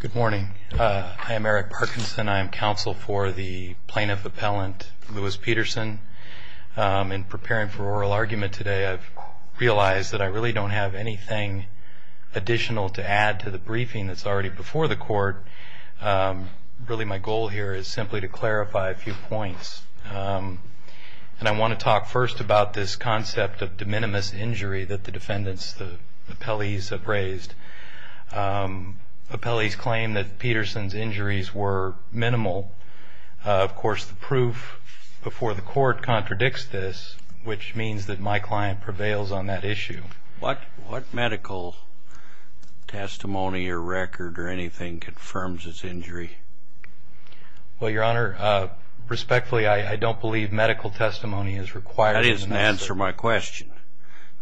Good morning. I am Eric Parkinson. I am counsel for the plaintiff appellant Louis Peterson. In preparing for oral argument today, I've realized that I really don't have anything additional to add to the briefing that's already before the court. Really, my goal here is simply to clarify a few points. And I want to talk first about this concept of de minimis injury that the defendants, the appellees, have raised. Appellees claim that Peterson's injuries were minimal. Of course, the proof before the court contradicts this, which means that my client prevails on that issue. What medical testimony or record or anything confirms his injury? Well, Your Honor, respectfully, I don't believe medical testimony is required. That doesn't answer my question.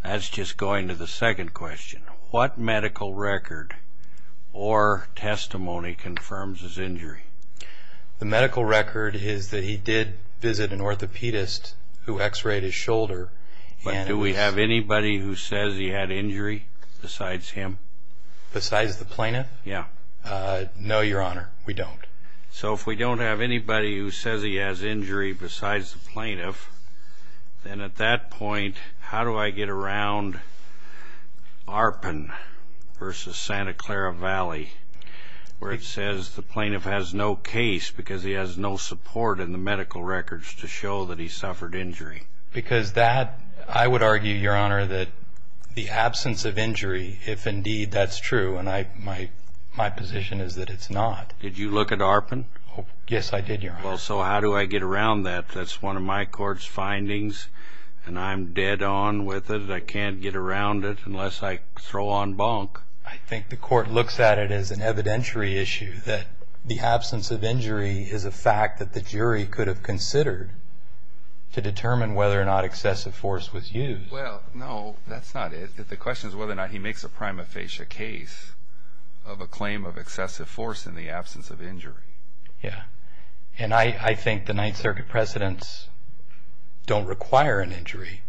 That's just going to the second question. What medical record or testimony confirms his injury? The medical record is that he did visit an orthopedist who x-rayed his shoulder. But do we have anybody who says he had injury besides him? Besides the plaintiff? Yeah. No, Your Honor, we don't. So if we don't have anybody who says he has injury besides the plaintiff, then at that point, how do I get around Arpin v. Santa Clara Valley, where it says the plaintiff has no case because he has no support in the medical records to show that he suffered injury? Because that, I would argue, Your Honor, that the absence of injury, if indeed that's true, and my position is that it's not. Did you look at Arpin? Yes, I did, Your Honor. Well, so how do I get around that? That's one of my court's findings, and I'm dead on with it. I can't get around it unless I throw on bunk. I think the court looks at it as an evidentiary issue, that the absence of injury is a fact that the jury could have considered to determine whether or not excessive force was used. Well, no, that's not it. The question is whether or not he makes a prima facie case of a claim of excessive force in the absence of injury. Yeah, and I think the Ninth Circuit precedents don't require an injury,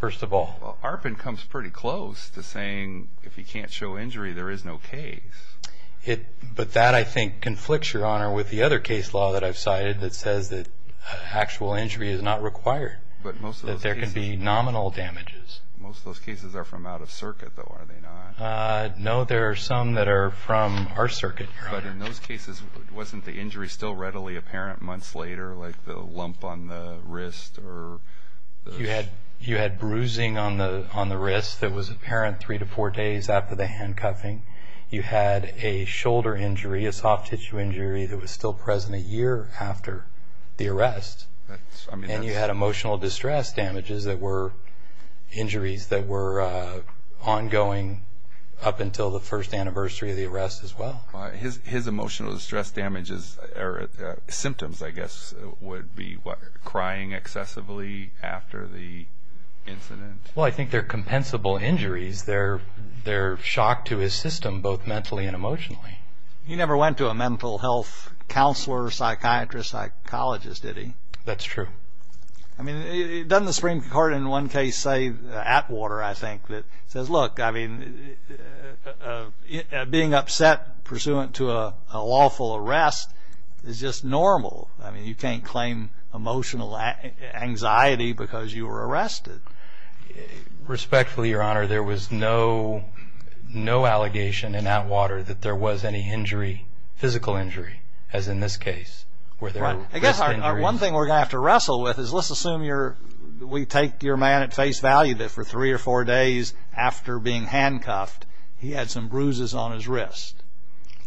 first of all. Well, Arpin comes pretty close to saying if he can't show injury, there is no case. But that, I think, conflicts, Your Honor, with the other case law that I've cited that says that actual injury is not required, that there can be nominal damages. Most of those cases are from out of circuit, though, are they not? No, there are some that are from our circuit, Your Honor. But in those cases, wasn't the injury still readily apparent months later, like the lump on the wrist? You had bruising on the wrist that was apparent three to four days after the handcuffing. You had a shoulder injury, a soft tissue injury that was still present a year after the arrest. And you had emotional distress damages that were injuries that were ongoing up until the first anniversary of the arrest as well. His emotional distress damages or symptoms, I guess, would be crying excessively after the incident. Well, I think they're compensable injuries. They're shock to his system, both mentally and emotionally. He never went to a mental health counselor, psychiatrist, psychologist, did he? That's true. I mean, doesn't the Supreme Court in one case say, Atwater, I think, that says, look, I mean, being upset pursuant to a lawful arrest is just normal. I mean, you can't claim emotional anxiety because you were arrested. Respectfully, Your Honor, there was no allegation in Atwater that there was any injury, physical injury, as in this case. One thing we're going to have to wrestle with is let's assume we take your man at face value that for three or four days after being handcuffed, he had some bruises on his wrist.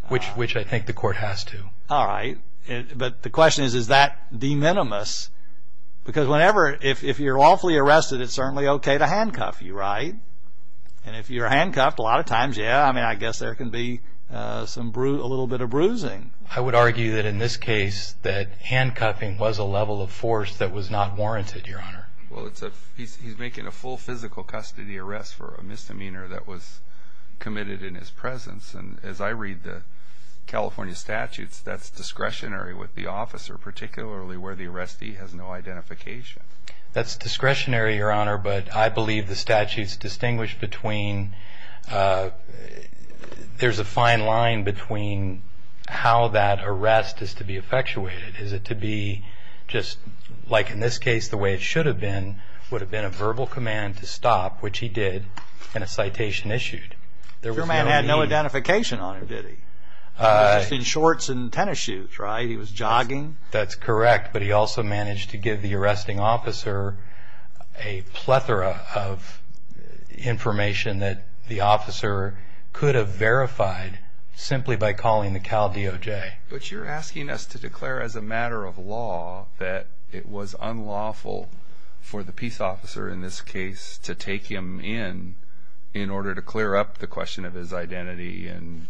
Which I think the court has to. All right. But the question is, is that de minimis? Because whenever, if you're lawfully arrested, it's certainly okay to handcuff you, right? And if you're handcuffed, a lot of times, yeah, I mean, I guess there can be a little bit of bruising. I would argue that in this case that handcuffing was a level of force that was not warranted, Your Honor. Well, he's making a full physical custody arrest for a misdemeanor that was committed in his presence. And as I read the California statutes, that's discretionary with the officer, particularly where the arrestee has no identification. That's discretionary, Your Honor, but I believe the statutes distinguish between, there's a fine line between how that arrest is to be effectuated. Is it to be just like in this case, the way it should have been, would have been a verbal command to stop, which he did, and a citation issued. Your man had no identification on him, did he? He was just in shorts and tennis shoes, right? He was jogging? That's correct, but he also managed to give the arresting officer a plethora of information that the officer could have verified simply by calling the Cal DOJ. But you're asking us to declare as a matter of law that it was unlawful for the peace officer in this case to take him in, in order to clear up the question of his identity and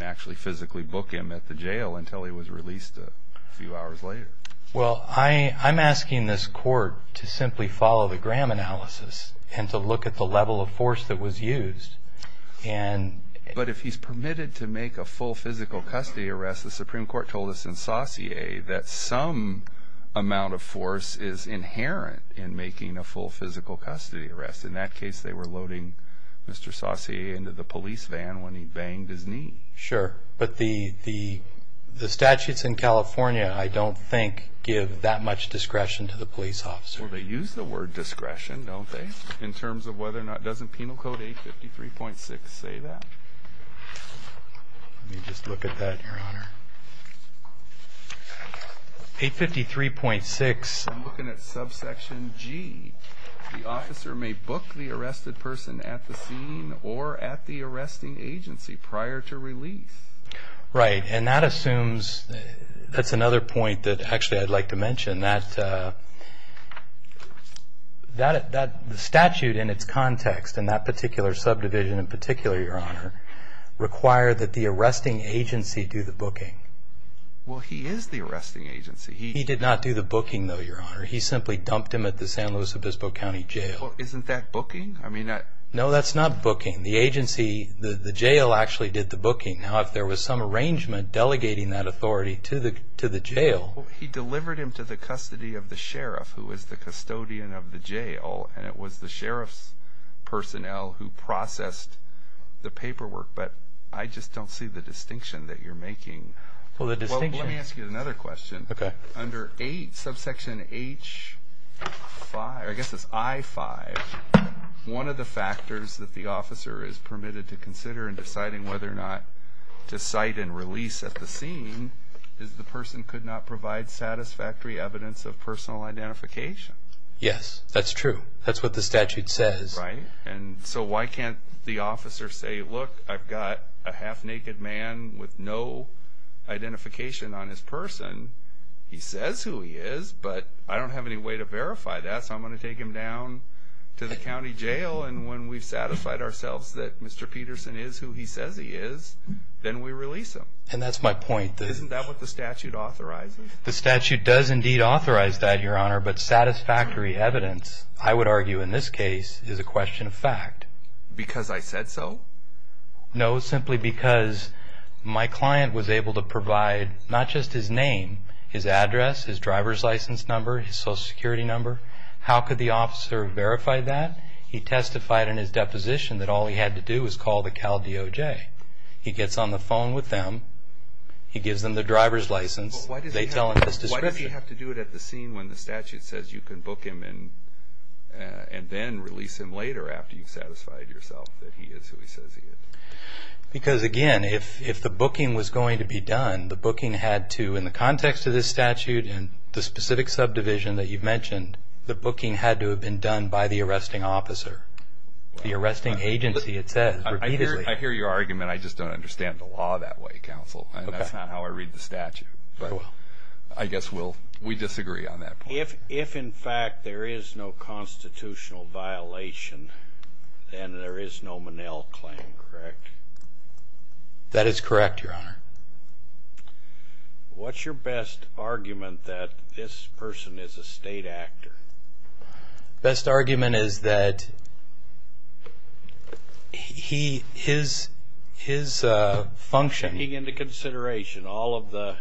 actually physically book him at the jail until he was released a few hours later. Well, I'm asking this court to simply follow the Graham analysis and to look at the level of force that was used. But if he's permitted to make a full physical custody arrest, the Supreme Court told us in Saussure that some amount of force is inherent in making a full physical custody arrest. In that case, they were loading Mr. Saussure into the police van when he banged his knee. Sure, but the statutes in California, I don't think, give that much discretion to the police officer. Well, they use the word discretion, don't they, in terms of whether or not – doesn't Penal Code 853.6 say that? 853.6. I'm looking at subsection G. The officer may book the arrested person at the scene or at the arresting agency prior to release. Right, and that assumes – that's another point that actually I'd like to mention, that the statute in its context, in that particular subdivision in particular, Your Honor, required that the arresting agency do the booking. Well, he is the arresting agency. He did not do the booking, though, Your Honor. He simply dumped him at the San Luis Obispo County Jail. Well, isn't that booking? No, that's not booking. The agency – the jail actually did the booking. Now, if there was some arrangement delegating that authority to the jail – Well, he delivered him to the custody of the sheriff, who was the custodian of the jail, and it was the sheriff's personnel who processed the paperwork. But I just don't see the distinction that you're making. Well, the distinction – Well, let me ask you another question. Okay. Under 8, subsection H5 – I guess it's I-5, one of the factors that the officer is permitted to consider in deciding whether or not to cite and release at the scene is the person could not provide satisfactory evidence of personal identification. Yes, that's true. That's what the statute says. Right. And so why can't the officer say, Look, I've got a half-naked man with no identification on his person. He says who he is, but I don't have any way to verify that, so I'm going to take him down to the county jail, and when we've satisfied ourselves that Mr. Peterson is who he says he is, then we release him. And that's my point. Isn't that what the statute authorizes? The statute does indeed authorize that, Your Honor, but satisfactory evidence, I would argue in this case, is a question of fact. Because I said so? No, simply because my client was able to provide not just his name, his address, his driver's license number, his Social Security number. How could the officer verify that? He testified in his deposition that all he had to do was call the Cal DOJ. He gets on the phone with them. He gives them the driver's license. They tell him his description. Why did he have to do it at the scene when the statute says you can book him and then release him later after you've satisfied yourself that he is who he says he is? Because, again, if the booking was going to be done, the booking had to, in the context of this statute and the specific subdivision that you've mentioned, the booking had to have been done by the arresting officer. The arresting agency, it says, repeatedly. I hear your argument. I just don't understand the law that way, Counsel. That's not how I read the statute. I guess we disagree on that point. If, in fact, there is no constitutional violation, then there is no Monell claim, correct? That is correct, Your Honor. What's your best argument that this person is a state actor? Best argument is that his function. Taking into consideration all of the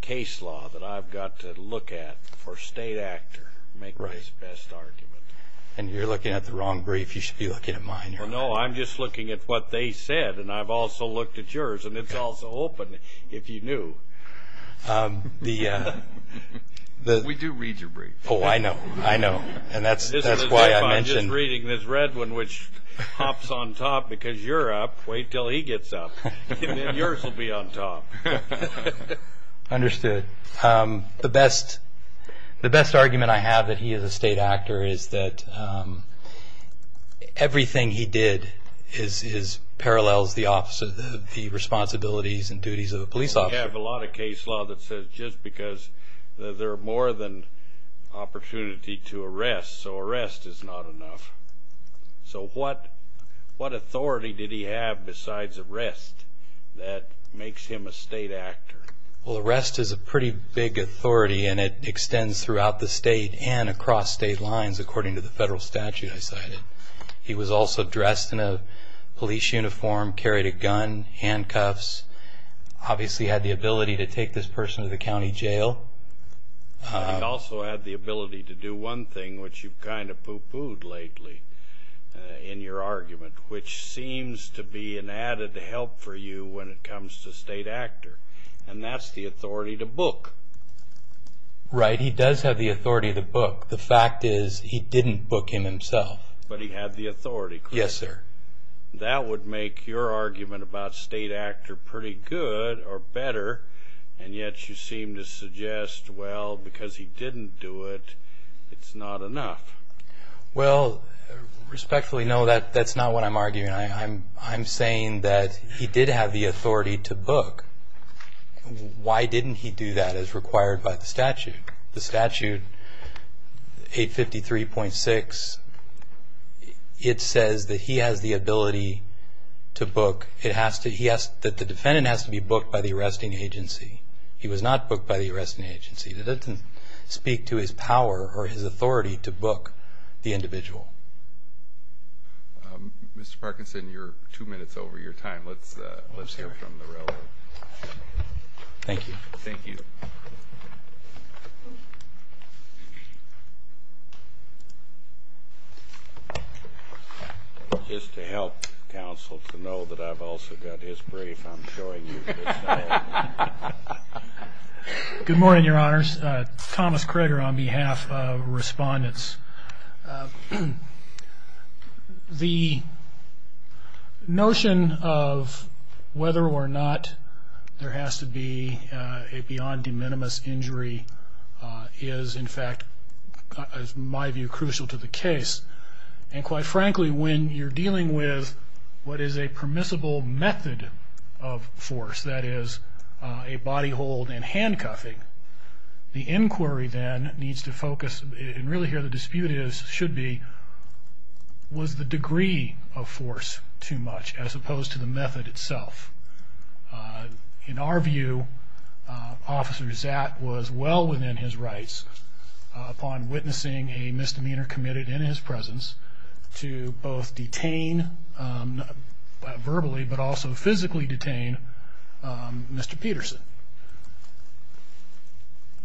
case law that I've got to look at for state actor, make my best argument. And you're looking at the wrong brief. You should be looking at mine, Your Honor. No, I'm just looking at what they said, and I've also looked at yours, and it's also open if you knew. We do read your brief. Oh, I know. I know, and that's why I mentioned. I'm just reading this red one, which hops on top because you're up. Wait until he gets up, and then yours will be on top. Understood. The best argument I have that he is a state actor is that everything he did parallels the responsibilities and duties of a police officer. We have a lot of case law that says just because there are more than opportunity to arrest, so arrest is not enough. So what authority did he have besides arrest that makes him a state actor? Well, arrest is a pretty big authority, and it extends throughout the state and across state lines according to the federal statute I cited. He was also dressed in a police uniform, carried a gun, handcuffs, obviously had the ability to take this person to the county jail. He also had the ability to do one thing, which you've kind of poo-pooed lately in your argument, which seems to be an added help for you when it comes to state actor, and that's the authority to book. Right. He does have the authority to book. The fact is he didn't book him himself. But he had the authority, correct? Yes, sir. That would make your argument about state actor pretty good or better, and yet you seem to suggest, well, because he didn't do it, it's not enough. Well, respectfully, no, that's not what I'm arguing. I'm saying that he did have the authority to book. Why didn't he do that as required by the statute? The statute, 853.6, it says that he has the ability to book. The defendant has to be booked by the arresting agency. He was not booked by the arresting agency. That doesn't speak to his power or his authority to book the individual. Mr. Parkinson, you're two minutes over your time. Let's hear from the relevant. Thank you. Thank you. Just to help counsel to know that I've also got his brief, I'm showing you. Good morning, Your Honors. Thomas Kroeger on behalf of respondents. The notion of whether or not there has to be a beyond de minimis injury is, in fact, in my view, crucial to the case. And quite frankly, when you're dealing with what is a permissible method of force, that is a body hold and handcuffing, the inquiry then needs to focus, and really here the dispute should be, was the degree of force too much as opposed to the method itself? In our view, Officer Zatt was well within his rights, upon witnessing a misdemeanor committed in his presence, to both detain verbally but also physically detain Mr. Peterson.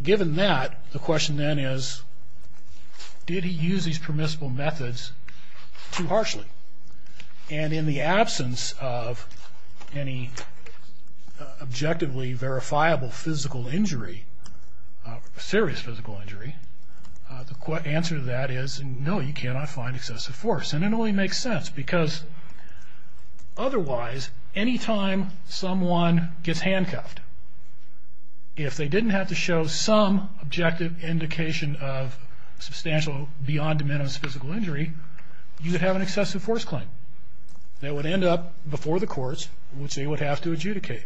Given that, the question then is, did he use these permissible methods too harshly? And in the absence of any objectively verifiable physical injury, serious physical injury, the answer to that is no, you cannot find excessive force. And it only makes sense because otherwise, any time someone gets handcuffed, if they didn't have to show some objective indication of substantial beyond de minimis physical injury, you would have an excessive force claim. They would end up before the courts, which they would have to adjudicate.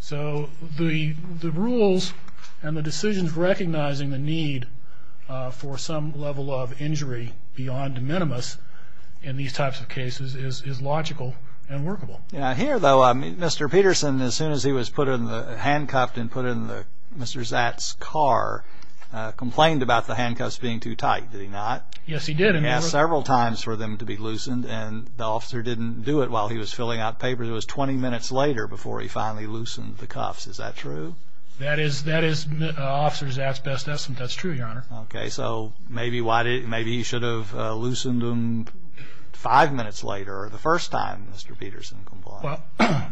So the rules and the decisions recognizing the need for some level of injury beyond de minimis in these types of cases is logical and workable. Here though, Mr. Peterson, as soon as he was handcuffed and put in Mr. Zatt's car, complained about the handcuffs being too tight, did he not? Yes, he did. He asked several times for them to be loosened, and the officer didn't do it while he was filling out papers. It was 20 minutes later before he finally loosened the cuffs. Is that true? That is Officer Zatt's best estimate. That's true, Your Honor. Okay, so maybe he should have loosened them five minutes later, or the first time Mr. Peterson complained. Well,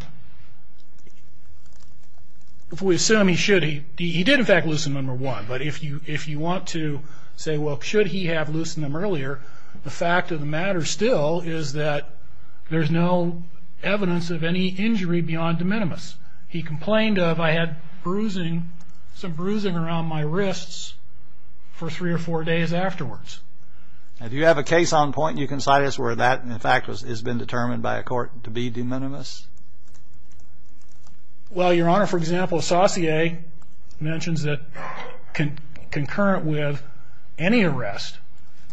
if we assume he should, he did, in fact, loosen them at one. But if you want to say, well, should he have loosened them earlier, the fact of the matter still is that there's no evidence of any injury beyond de minimis. He complained of, I had some bruising around my wrists for three or four days afterwards. Do you have a case on point you can cite as where that, in fact, has been determined by a court to be de minimis? Well, Your Honor, for example, Saussure mentions that concurrent with any arrest,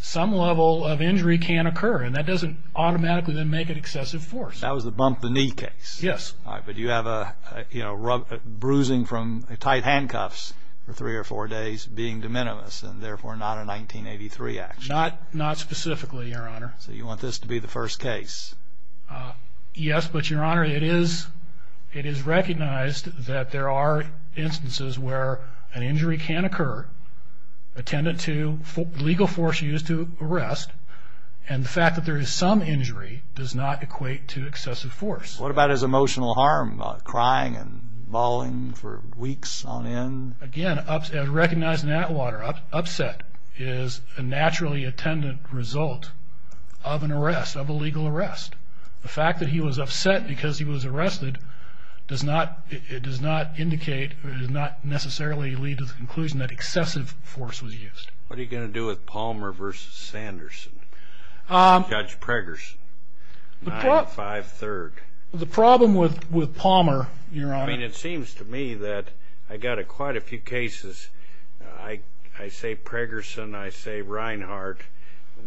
some level of injury can occur, and that doesn't automatically then make it excessive force. That was the bump-the-knee case? Yes. All right, but you have bruising from tight handcuffs for three or four days being de minimis, and therefore not a 1983 action. Not specifically, Your Honor. So you want this to be the first case? Yes, but, Your Honor, it is recognized that there are instances where an injury can occur attendant to legal force used to arrest, and the fact that there is some injury does not equate to excessive force. What about his emotional harm, crying and bawling for weeks on end? Again, recognizing that water, upset is a naturally attendant result of an arrest, of a legal arrest. The fact that he was upset because he was arrested does not indicate or does not necessarily lead to the conclusion that excessive force was used. What are you going to do with Palmer v. Sanderson, Judge Preggerson, 9-5-3rd? The problem with Palmer, Your Honor. I mean, it seems to me that I got quite a few cases. I say Preggerson, I say Reinhardt.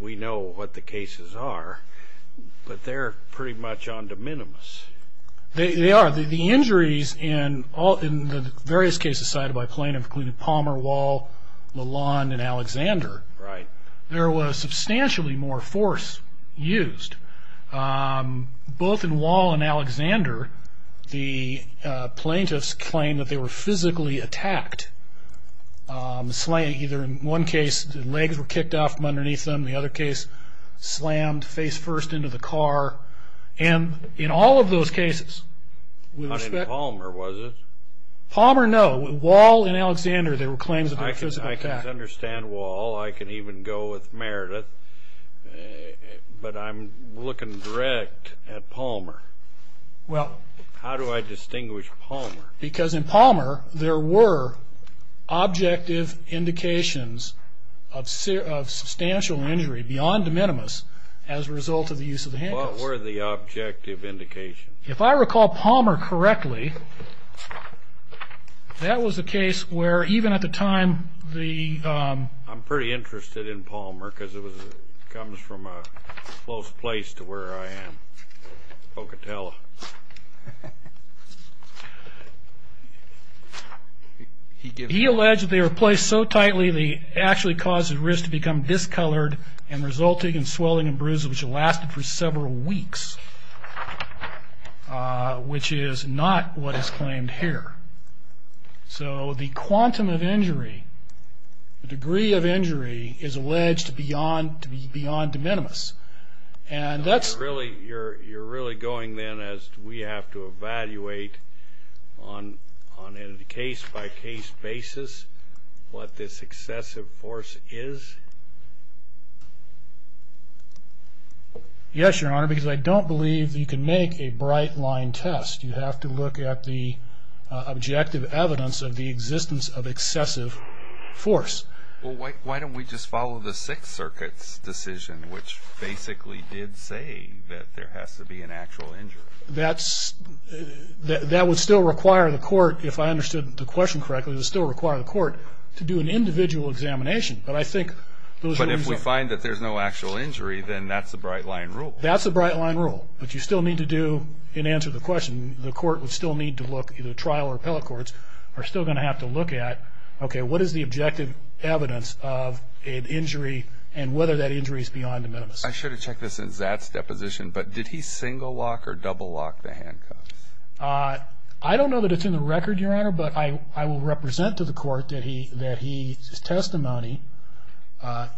We know what the cases are, but they're pretty much on de minimis. They are. The injuries in the various cases cited by plaintiffs, including Palmer, Wall, Lalonde and Alexander, there was substantially more force used. Both in Wall and Alexander, the plaintiffs claimed that they were physically attacked. In one case, the legs were kicked off from underneath them. In the other case, slammed face first into the car. And in all of those cases, we respect. Not in Palmer, was it? Palmer, no. In Wall and Alexander, there were claims that they were physically attacked. I can understand Wall. I can even go with Meredith. But I'm looking direct at Palmer. Well. How do I distinguish Palmer? Because in Palmer, there were objective indications of substantial injury beyond de minimis as a result of the use of the handcuffs. What were the objective indications? If I recall Palmer correctly, that was a case where even at the time the... I'm pretty interested in Palmer because it comes from a close place to where I am, Pocatello. He alleged that they were placed so tightly, they actually caused the wrist to become discolored and resulting in swelling and bruises, which lasted for several weeks, which is not what is claimed here. So the quantum of injury, the degree of injury is alleged to be beyond de minimis. And that's... You're really going then as we have to evaluate on a case-by-case basis what this excessive force is? Yes, Your Honor, because I don't believe you can make a bright-line test. You have to look at the objective evidence of the existence of excessive force. Well, why don't we just follow the Sixth Circuit's decision, which basically did say that there has to be an actual injury? That would still require the court, if I understood the question correctly, it would still require the court to do an individual examination. But I think those... But if we find that there's no actual injury, then that's a bright-line rule. That's a bright-line rule. But you still need to do, in answer to the question, the court would still need to look, either trial or appellate courts, are still going to have to look at, okay, what is the objective evidence of an injury and whether that injury is beyond de minimis. I should have checked this in Zat's deposition, but did he single lock or double lock the handcuffs? I don't know that it's in the record, Your Honor, but I will represent to the court that he's testimony. Let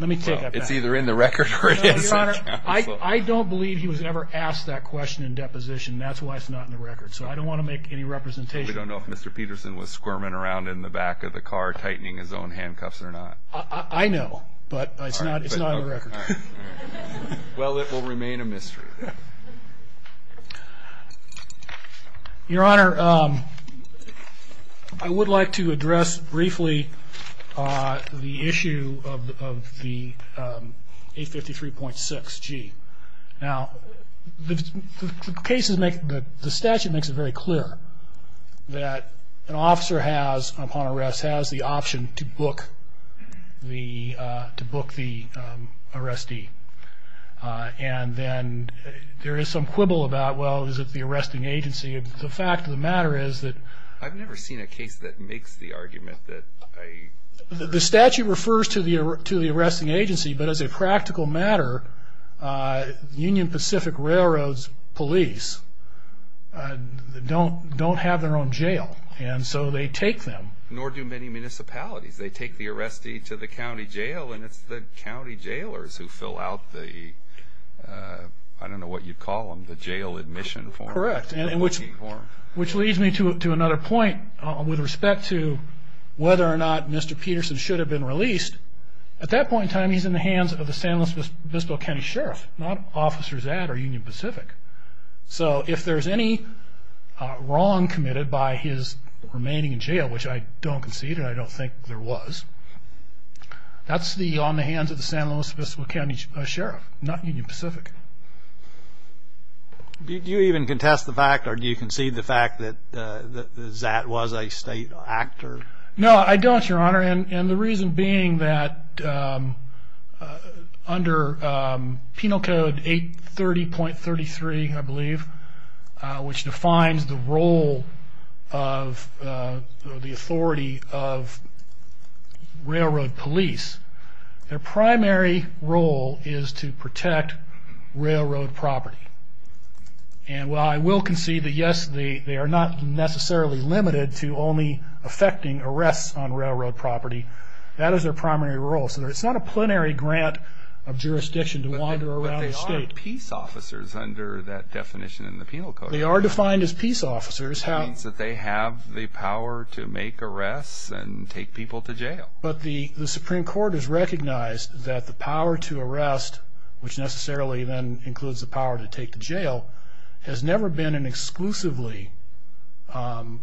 me take that back. It's either in the record or it isn't. I don't believe he was ever asked that question in deposition. That's why it's not in the record. So I don't want to make any representation. We don't know if Mr. Peterson was squirming around in the back of the car tightening his own handcuffs or not. I know, but it's not in the record. Well, it will remain a mystery. Your Honor, I would like to address briefly the issue of the 853.6g. Now, the statute makes it very clear that an officer has, upon arrest, has the option to book the arrestee. And then there is some quibble about, well, is it the arresting agency? The fact of the matter is that the statute refers to the arresting agency, but as a practical matter, Union Pacific Railroad's police don't have their own jail, and so they take them. Nor do many municipalities. They take the arrestee to the county jail, and it's the county jailers who fill out the, I don't know what you'd call them, the jail admission form. Correct, which leads me to another point with respect to whether or not Mr. Peterson should have been released. At that point in time, he's in the hands of the San Luis Obispo County Sheriff, not Officers at or Union Pacific. So if there's any wrong committed by his remaining in jail, which I don't concede and I don't think there was, that's on the hands of the San Luis Obispo County Sheriff, not Union Pacific. Do you even contest the fact or do you concede the fact that Zat was a state actor? No, I don't, Your Honor, and the reason being that under Penal Code 830.33, I believe, which defines the role of the authority of railroad police, their primary role is to protect railroad property. And while I will concede that, yes, they are not necessarily limited to only affecting arrests on railroad property. That is their primary role. So it's not a plenary grant of jurisdiction to wander around the state. But they are peace officers under that definition in the Penal Code. They are defined as peace officers. That means that they have the power to make arrests and take people to jail. But the Supreme Court has recognized that the power to arrest, which necessarily then includes the power to take to jail, has never been an exclusively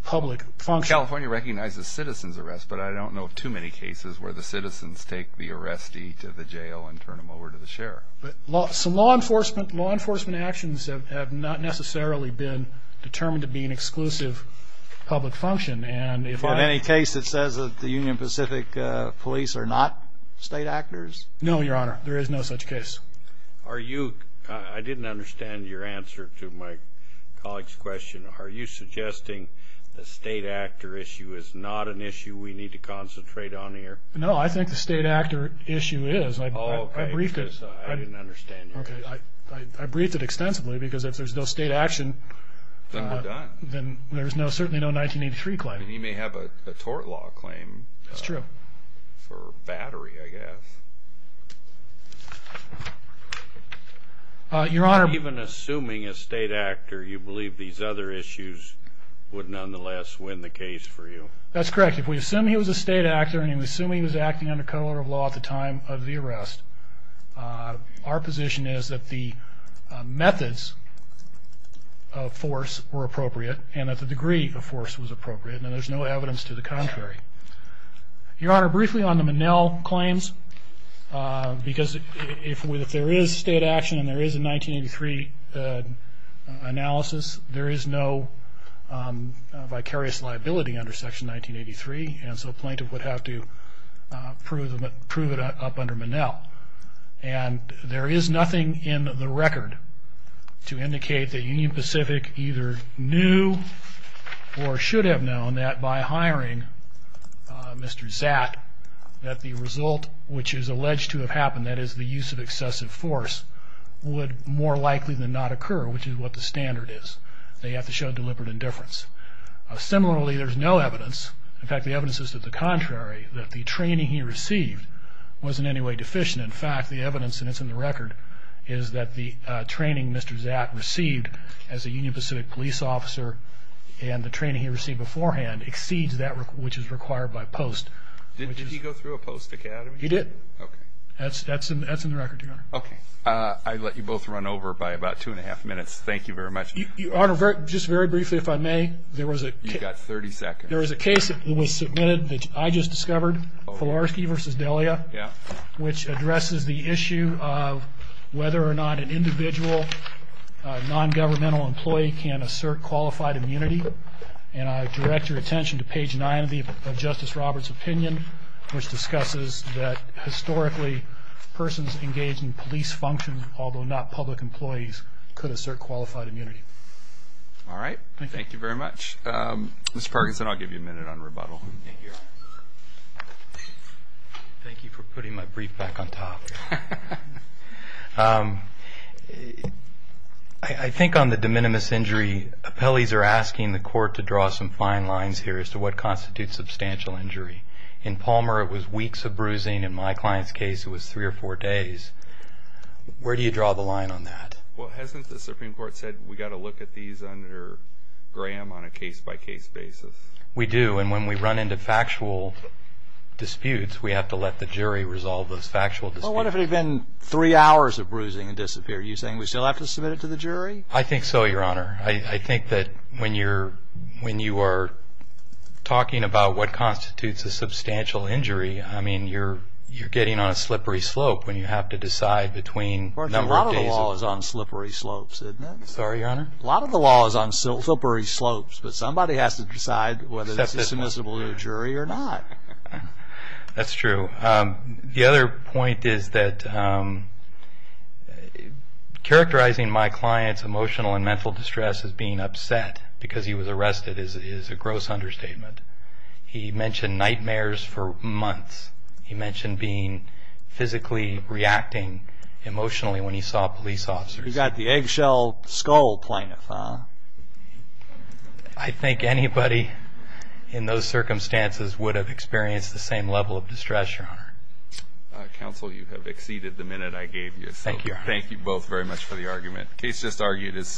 public function. California recognizes citizens' arrests, but I don't know of too many cases where the citizens take the arrestee to the jail and turn them over to the sheriff. Law enforcement actions have not necessarily been determined to be an exclusive public function. In any case, it says that the Union Pacific police are not state actors? No, Your Honor, there is no such case. I didn't understand your answer to my colleague's question. Are you suggesting the state actor issue is not an issue we need to concentrate on here? No, I think the state actor issue is. I briefed it extensively because if there's no state action, then there's certainly no 1983 claim. You may have a tort law claim for battery, I guess. Even assuming a state actor, you believe these other issues would nonetheless win the case for you? That's correct. If we assume he was a state actor and he was assuming he was acting under code of law at the time of the arrest, our position is that the methods of force were appropriate and that the degree of force was appropriate, and there's no evidence to the contrary. Your Honor, briefly on the Minnell claims, because if there is state action and there is a 1983 analysis, there is no vicarious liability under Section 1983, and so a plaintiff would have to prove it up under Minnell. And there is nothing in the record to indicate that Union Pacific either knew or should have known that by hiring Mr. Zatt, that the result which is alleged to have happened, that is the use of excessive force, would more likely than not occur, which is what the standard is. They have to show deliberate indifference. Similarly, there's no evidence. In fact, the evidence is to the contrary, that the training he received was in any way deficient. In fact, the evidence, and it's in the record, is that the training Mr. Zatt received as a Union Pacific police officer and the training he received beforehand exceeds that which is required by post. Did he go through a post academy? He did. Okay. That's in the record, Your Honor. Okay. I'd let you both run over by about two and a half minutes. Thank you very much. Your Honor, just very briefly, if I may. You've got 30 seconds. There was a case that was submitted that I just discovered, Filarski v. Delia, which addresses the issue of whether or not an individual non-governmental employee can assert qualified immunity. And I direct your attention to page 9 of Justice Roberts' opinion, which discusses that historically persons engaged in police function, although not public employees, could assert qualified immunity. All right. Thank you very much. Mr. Parkinson, I'll give you a minute on rebuttal. Thank you, Your Honor. Thank you for putting my brief back on top. I think on the de minimis injury, appellees are asking the court to draw some fine lines here as to what constitutes substantial injury. In Palmer, it was weeks of bruising. In my client's case, it was three or four days. Where do you draw the line on that? Well, hasn't the Supreme Court said we've got to look at these under Graham on a case-by-case basis? We do. And when we run into factual disputes, we have to let the jury resolve those factual disputes. Well, what if it had been three hours of bruising and disappeared? Are you saying we still have to submit it to the jury? I think so, Your Honor. I think that when you are talking about what constitutes a substantial injury, I mean, you're getting on a slippery slope when you have to decide between a number of days. A lot of the law is on slippery slopes, isn't it? Sorry, Your Honor? A lot of the law is on slippery slopes. But somebody has to decide whether this is submissible to a jury or not. That's true. The other point is that characterizing my client's emotional and mental distress as being upset because he was arrested is a gross understatement. He mentioned nightmares for months. He mentioned being physically reacting emotionally when he saw police officers. You've got the eggshell skull plaintiff, huh? I think anybody in those circumstances would have experienced the same level of distress, Your Honor. Counsel, you have exceeded the minute I gave you. Thank you, Your Honor. Thank you both very much for the argument. The case just argued is submitted.